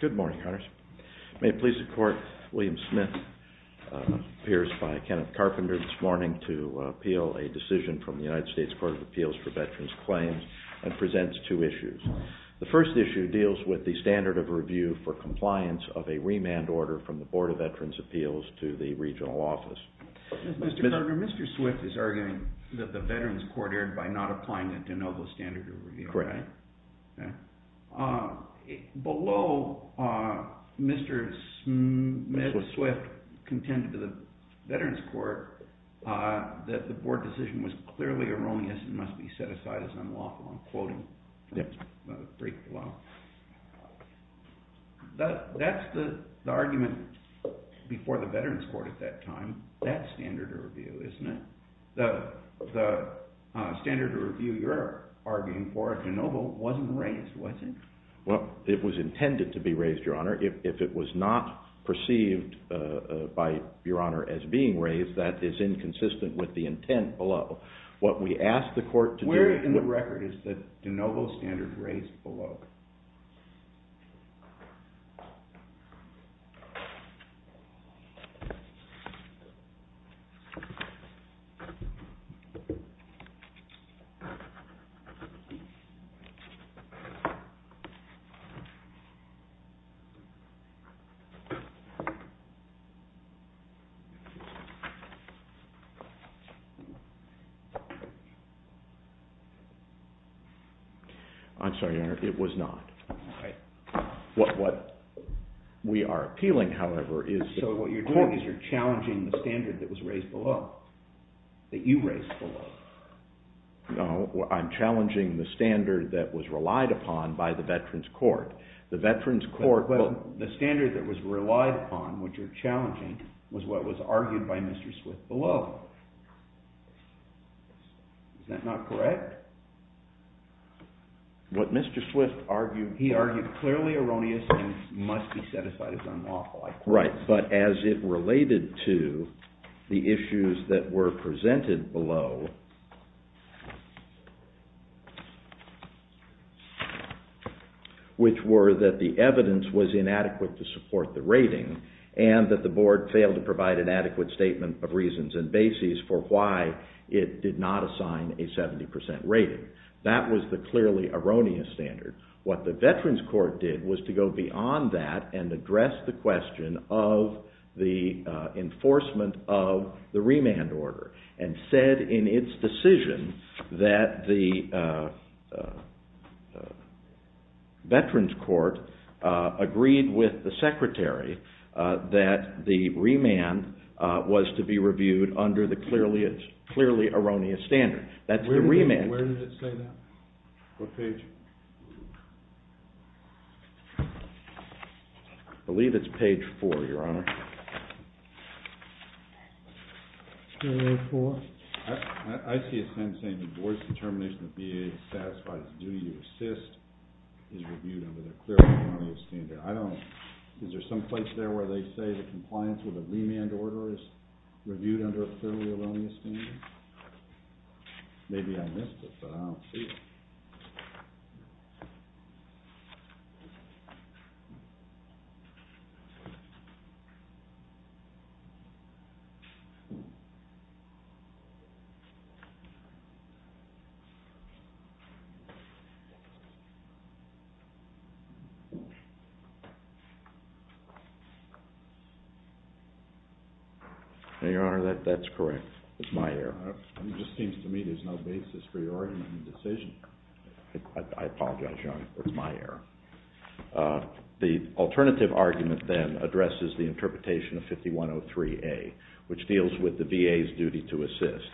Good morning. May it please the court, William Smith appears by Kenneth Carpenter this morning to appeal a decision from the United States Court of Appeals for Veterans Claims and presents two issues. The first issue deals with the standard of review for compliance of a remand order from the Board of Veterans' Appeals to the regional office. Mr. Carpenter, Mr. Swift is arguing that the Veterans Court erred by not applying the de facto standard. Below, Mr. Swift contended to the Veterans Court that the board decision was clearly erroneous and must be set aside as unlawful. I'm quoting. That's the argument before the Veterans Court at that time. That's standard of review, isn't it? The standard of review you're arguing for at De Novo wasn't raised, was it? Well, it was intended to be raised, Your Honor. If it was not perceived by Your Honor as being raised, that is inconsistent with the intent below. What we ask the court to do- The De Novo standard raised below. I'm sorry, Your Honor. It was not. What we are appealing, however, is- So what you're doing is you're challenging the standard that was raised below, that you raised below. No, I'm challenging the standard that was relied upon by the Veterans Court. The Veterans Court- The standard that was relied upon, which you're challenging, was what was argued by Mr. Swift below. Is that not correct? What Mr. Swift argued, he argued clearly erroneous and must be set aside as unlawful. Right, but as it related to the issues that were presented below, which were that the evidence was inadequate to support the rating and that the board failed to provide an adequate statement of reasons and bases for why it did not assign a 70% rating. That was the clearly erroneous standard. What the Veterans Court did was to go beyond that and address the question of the enforcement of the remand order and said in its decision that the Veterans Court was to be reviewed under the clearly erroneous standard. That's the remand- Where did it say that? What page? I believe it's page four, Your Honor. Page four. I see a sentence saying the board's determination of VA is satisfied as due. Your assist is reviewed under the clearly erroneous standard. Is there some place there where they say the compliance with a remand order is reviewed under a clearly erroneous standard? Maybe I missed it, but I don't see it. No, Your Honor, that's correct. It's my error. It just seems to me there's no basis for your argument in the decision. I apologize, Your Honor. It's my error. The alternative argument then addresses the interpretation of 5103A, which deals with the VA's duty to assist.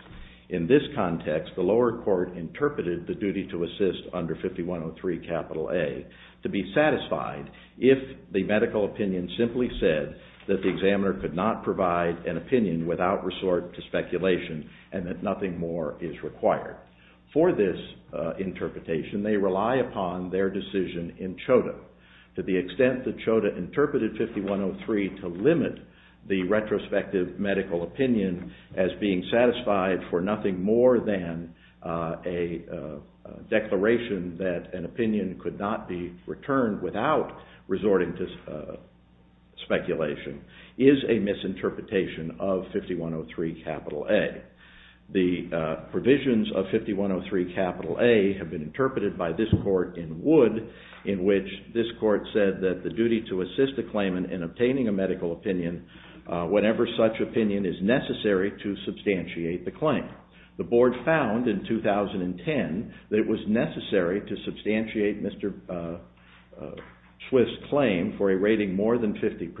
In this context, the lower court interpreted the duty to assist under 5103A to be satisfied if the medical opinion simply said that the examiner could not provide an opinion without resort to speculation and that nothing more is required. For this interpretation, they rely upon their decision in CHODA. To the extent that CHODA interpreted 5103 to limit the retrospective medical opinion as being satisfied for nothing more than a declaration that an opinion could not be returned without resorting to speculation is a misinterpretation of 5103A. The provisions of 5103A have been interpreted by this Court in Wood in which this Court said that the duty to assist a claimant in obtaining a medical opinion whenever such opinion is necessary to substantiate the claim. The Board found in 2010 that it was necessary to substantiate Mr. Swift's claim for a rating more than 50%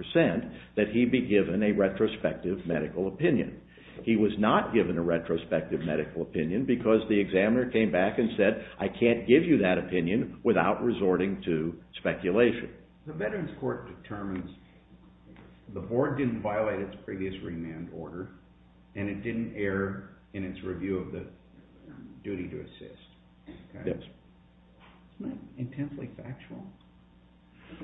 that he be given a retrospective medical opinion. He was not given a retrospective medical opinion because the examiner came back and said, I can't give you that opinion without resorting to speculation. The Veterans Court determines the Board didn't violate its previous remand order and it didn't err in its review of the duty to assist. Isn't that intensely factual?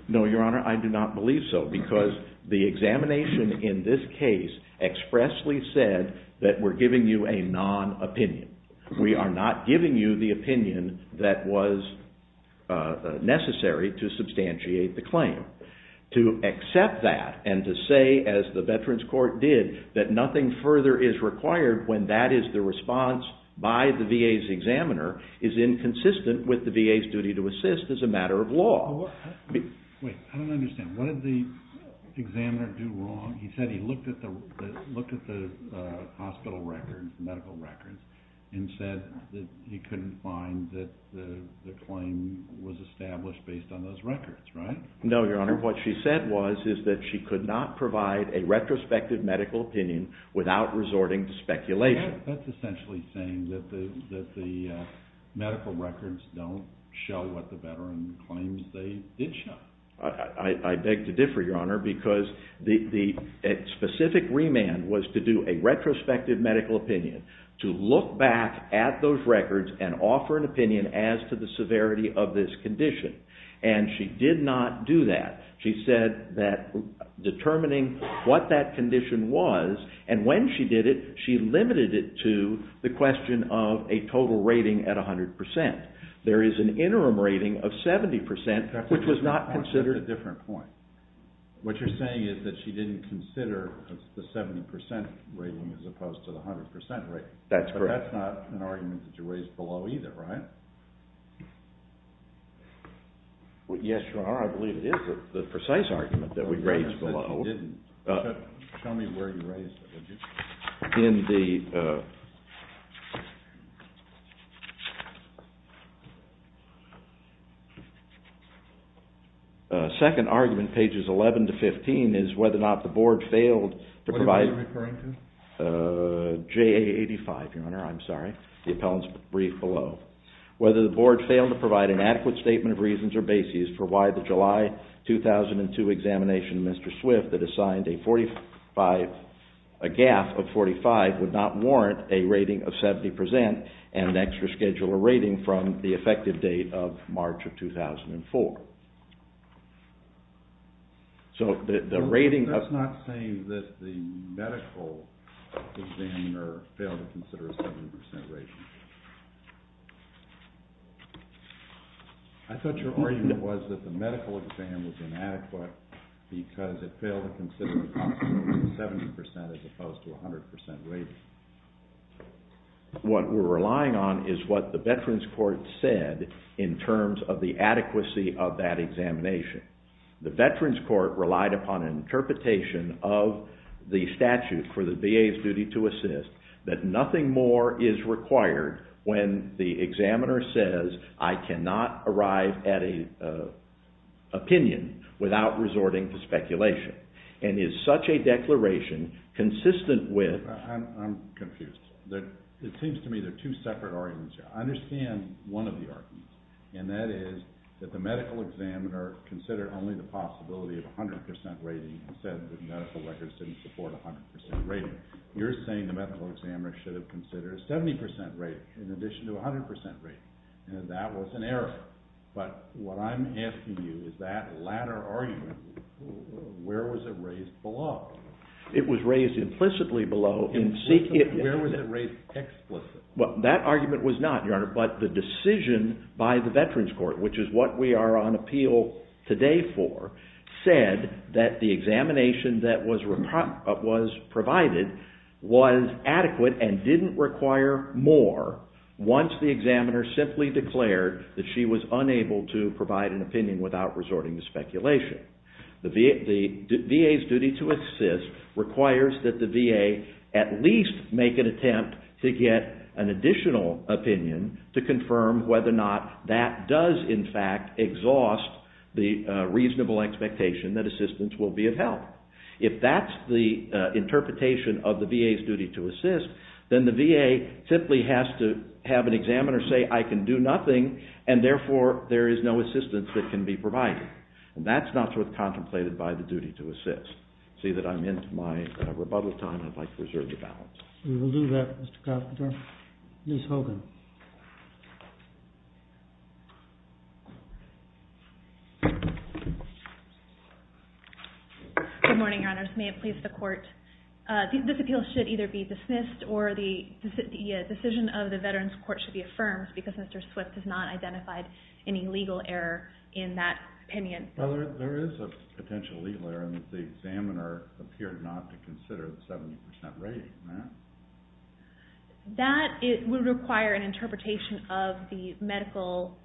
No, Your Honor, I do not believe so because the examination in this case expressly said that we're giving you a non-opinion. We are not giving you the opinion that was necessary to substantiate the claim. To accept that and to say, as the Veterans Court did, that nothing further is required when that is the response by the VA's examiner is inconsistent with the VA's duty to assist as a matter of law. Wait, I don't understand. What did the examiner do wrong? He said he looked at the hospital medical records and said that he couldn't find that the claim was established based on those records, right? No, Your Honor, what she said was that she could not provide a retrospective medical opinion without resorting to speculation. That's essentially saying that the medical records don't show what the veteran claims they did show. I beg to differ, Your Honor, because the specific remand was to do a retrospective medical opinion, to look back at those records and offer an opinion as to the severity of this condition. And she did not do that. She said that determining what that condition was, and when she did it, she limited it to the question of a total rating at 100%. There is an interim rating of 70%, which was not considered... That's a different point. What you're saying is that she didn't consider the 70% rating as opposed to the 100% rating. That's correct. But that's not an argument that you raised below either, right? Yes, Your Honor, I believe it is the precise argument that we raised below. Show me where you raised it. In the second argument, pages 11 to 15, is whether or not the Board failed to provide... What are you referring to? JA85, Your Honor, I'm sorry. The appellant's brief below. Whether the Board failed to provide an adequate statement of reasons or basis for why the GAF of 45 would not warrant a rating of 70% and an extra scheduler rating from the effective date of March of 2004. That's not saying that the medical examiner failed to consider a 70% rating. I thought your argument was that the medical exam was inadequate because it failed to consider a 70% as opposed to a 100% rating. What we're relying on is what the Veterans Court said in terms of the adequacy of that examination. The Veterans Court relied upon an interpretation of the statute for the VA's duty to assist that nothing more is required when the examiner says, I cannot arrive at an opinion without resorting to speculation. And is such a declaration consistent with... I'm confused. It seems to me there are two separate arguments here. I understand one of the arguments, and that is that the medical examiner considered only the possibility of a 100% rating and said the medical records didn't support a 100% rating. You're saying the medical examiner should have considered a 70% rating in addition to a 100% rating. And that was an error. But what I'm asking you is that latter argument, where was it raised below? It was raised implicitly below. Implicitly? Where was it raised explicitly? Well, that argument was not, Your Honor, but the decision by the Veterans Court, which is what we are on appeal today for, said that the examination that was provided was adequate and didn't require more once the examiner simply declared that she was unable to provide an opinion without resorting to speculation. The VA's duty to assist requires that the VA at least make an attempt to get an additional opinion to confirm whether or not that does, in fact, exhaust the reasonable expectation that assistance will be of help. If that's the interpretation of the VA's duty to assist, then the VA simply has to have an examiner say, I can do nothing, and therefore there is no assistance that can be provided. And that's not what's contemplated by the duty to assist. I see that I'm into my rebuttal time. I'd like to reserve the balance. We will do that, Mr. Confitor. Ms. Hogan. Good morning, Your Honors. May it please the Court, this appeal should either be dismissed or the decision of the Veterans Court should be affirmed because Mr. Swift has not identified any legal error in that opinion. There is a potential legal error in that the examiner appeared not to consider the 70% rating. That would require an interpretation of the medical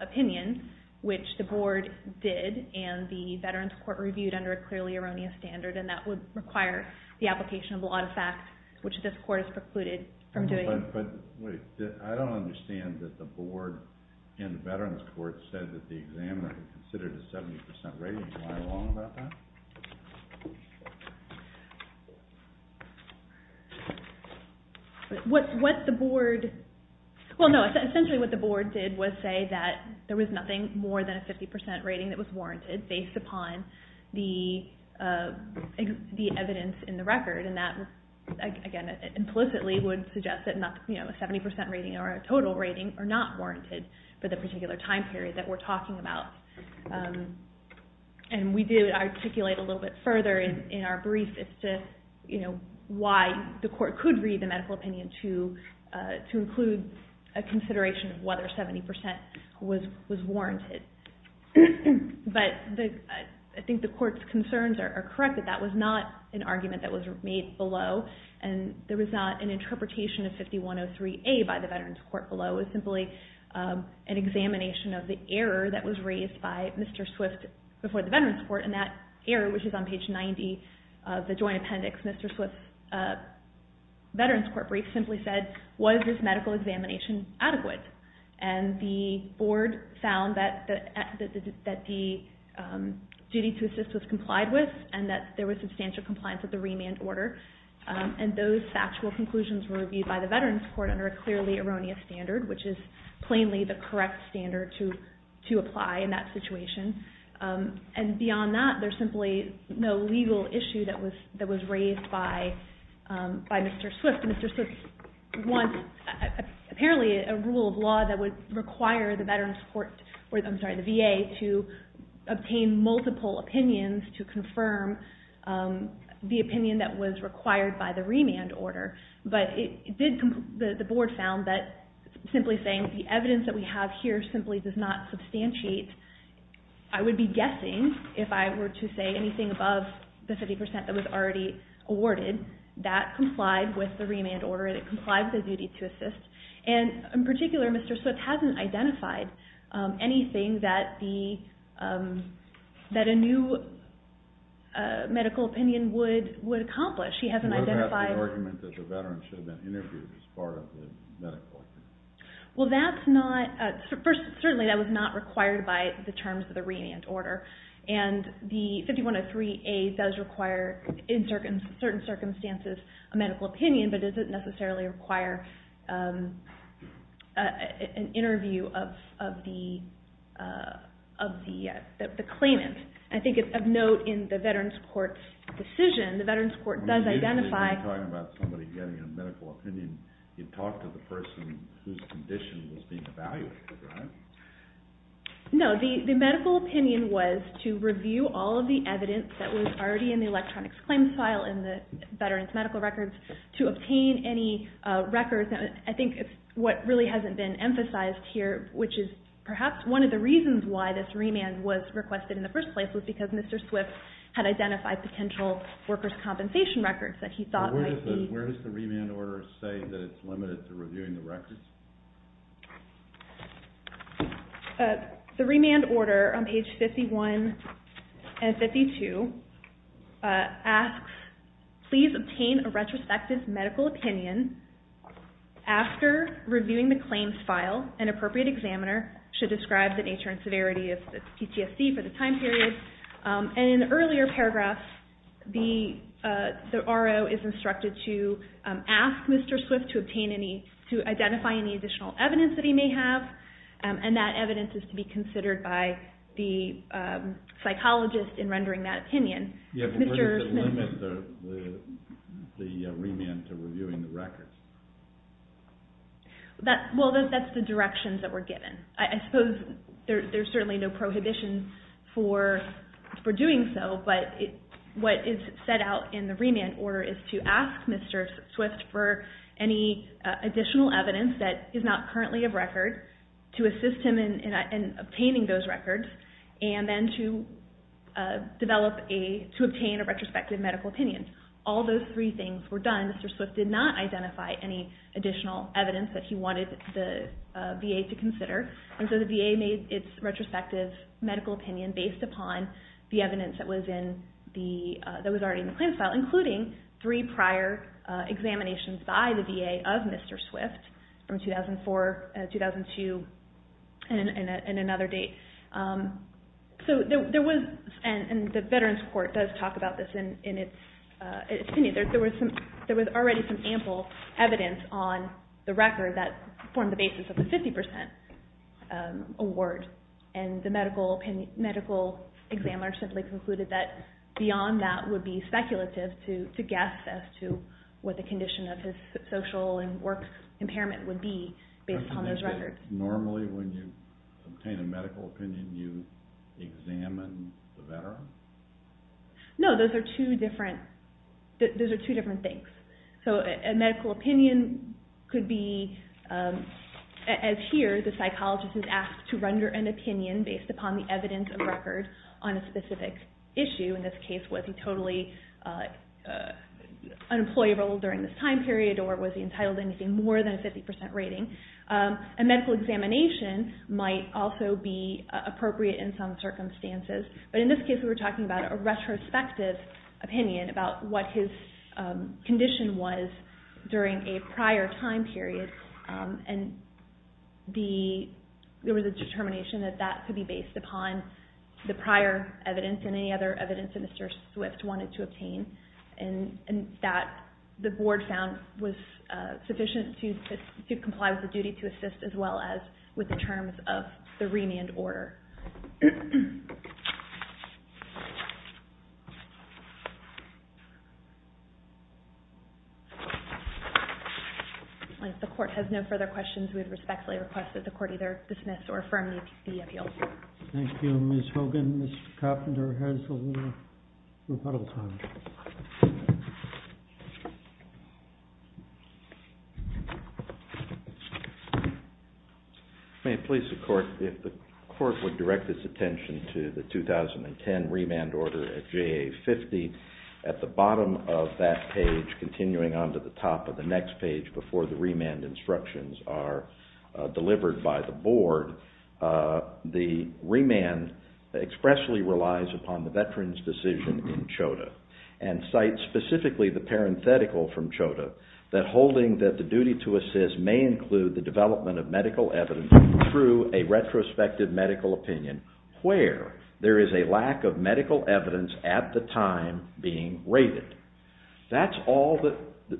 opinion, which the Board did, and the Veterans Court reviewed under a clearly erroneous standard, and that would require the application of a lot of facts, which this Court has precluded from doing. But wait, I don't understand that the Board and the Veterans Court said that the examiner considered a 70% rating. Can you lie along about that? What the Board – well, no, essentially what the Board did was say that there was nothing more than a 50% rating that was warranted based upon the evidence in the record, and that implicitly would suggest that a 70% rating or a total rating are not warranted for the particular time period that we're talking about. And we do articulate a little bit further in our brief as to why the Court could read the medical opinion to include a consideration of whether 70% was warranted. But I think the Court's concerns are correct that that was not an argument that was made below, and there was not an interpretation of 5103A by the Veterans Court below. It was simply an examination of the error that was raised by Mr. Swift before the Veterans Court, and that error, which is on page 90 of the joint appendix, Mr. Swift's Veterans Court brief simply said, was this medical examination adequate? And the Board found that the duty to assist was complied with and that there was substantial compliance with the remand order, and those factual conclusions were reviewed by the Veterans Court under a clearly erroneous standard, which is plainly the correct standard to apply in that situation. And beyond that, there's simply no legal issue that was raised by Mr. Swift. Mr. Swift wants apparently a rule of law that would require the VA to obtain multiple opinions to confirm the opinion that was required by the remand order. But the Board found that simply saying the evidence that we have here simply does not substantiate, I would be guessing, if I were to say anything above the 50% that was already awarded, that complied with the remand order and it complied with the duty to assist. And in particular, Mr. Swift hasn't identified anything that a new medical opinion would accomplish. He hasn't identified... What about the argument that the veteran should have been interviewed as part of the medical opinion? Well, that's not... First, certainly that was not required by the terms of the remand order. And the 5103A does require, in certain circumstances, a medical opinion, but it doesn't necessarily require an interview of the claimant. I think of note in the Veterans Court's decision, the Veterans Court does identify... When you're talking about somebody getting a medical opinion, you talk to the person whose condition was being evaluated, right? No. The medical opinion was to review all of the evidence that was already in the electronics claims file in the veterans' medical records to obtain any records. I think what really hasn't been emphasized here, which is perhaps one of the reasons why this remand was requested in the first place, was because Mr. Swift had identified potential workers' compensation records that he thought might be... Where does the remand order say that it's limited to reviewing the records? The remand order on page 51 and 52 asks, please obtain a retrospective medical opinion. After reviewing the claims file, an appropriate examiner should describe the nature and severity of the PTSD for the time period. In the earlier paragraph, the RO is instructed to ask Mr. Swift to identify any additional evidence that he may have, and that evidence is to be considered by the psychologist in rendering that opinion. Where does it limit the remand to reviewing the records? That's the directions that were given. I suppose there's certainly no prohibition for doing so, but what is set out in the remand order is to ask Mr. Swift for any additional evidence that is not currently of record, to assist him in obtaining those records, and then to obtain a retrospective medical opinion. All those three things were done. Mr. Swift did not identify any additional evidence that he wanted the VA to consider, and so the VA made its retrospective medical opinion based upon the evidence that was already in the claims file, including three prior examinations by the VA of Mr. Swift from 2004, 2002, and another date. So there was, and the Veterans Court does talk about this in its opinion, there was already some ample evidence on the record that formed the basis of the 50% award, and the medical examiner simply concluded that beyond that would be speculative to guess as to what the condition of his social and work impairment would be based on those records. Normally, when you obtain a medical opinion, you examine the veteran? No, those are two different things. So a medical opinion could be, as here, the psychologist is asked to render an opinion based upon the evidence of record on a specific issue. In this case, was he totally unemployable during this time period or was he entitled to anything more than a 50% rating? A medical examination might also be appropriate in some circumstances, but in this case we were talking about a retrospective opinion about what his condition was during a prior time period, and there was a determination that that could be based upon the prior evidence and any other evidence that Mr. Swift wanted to obtain, and that the board found was sufficient to comply with the duty to assist as well as with the terms of the remand order. If the court has no further questions, we respectfully request that the court either dismiss or affirm the appeal. Thank you, Ms. Hogan. Mr. Carpenter has a little rebuttal time. May it please the court, if the court would direct its attention to the 2010 remand order at JA 50, at the bottom of that page continuing on to the top of the next page before the remand instructions are delivered by the board, the remand expressly relies upon the veteran's decision in CHODA and cites specifically the parenthetical from CHODA that holding that the duty to assist may include the development of medical evidence through a retrospective medical opinion where there is a lack of medical evidence at the time being rated. That's all that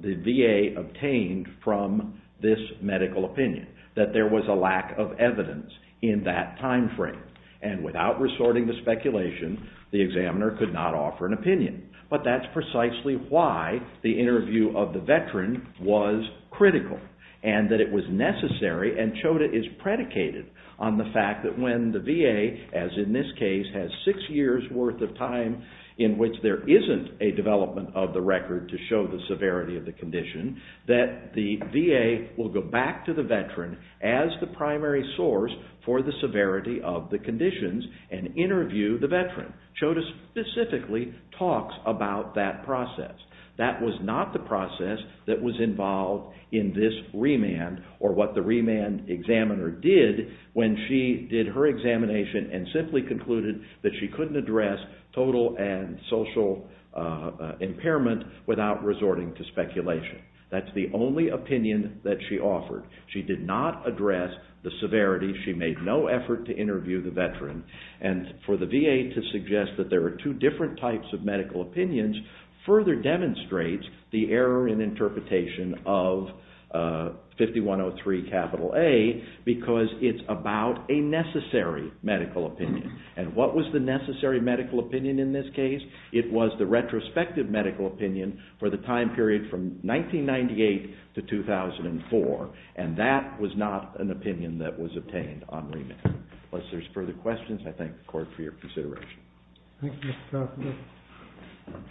the VA obtained from this medical opinion, that there was a lack of evidence in that time frame. And without resorting to speculation, the examiner could not offer an opinion. But that's precisely why the interview of the veteran was critical and that it was necessary and CHODA is predicated on the fact that when the VA, as in this case, has six years' worth of time in which there isn't a development of the record to show the severity of the condition, that the VA will go back to the veteran as the primary source for the severity of the conditions and interview the veteran. CHODA specifically talks about that process. That was not the process that was involved in this remand or what the remand examiner did when she did her examination and simply concluded that she couldn't address total and social impairment without resorting to speculation. That's the only opinion that she offered. She did not address the severity. She made no effort to interview the veteran. And for the VA to suggest that there are two different types of medical opinions further demonstrates the error in interpretation of 5103A because it's about a necessary medical opinion. And what was the necessary medical opinion in this case? It was the retrospective medical opinion for the time period from 1998 to 2004, and that was not an opinion that was obtained on remand. Unless there's further questions, I thank the Court for your consideration. Thank you, Mr. Carthage.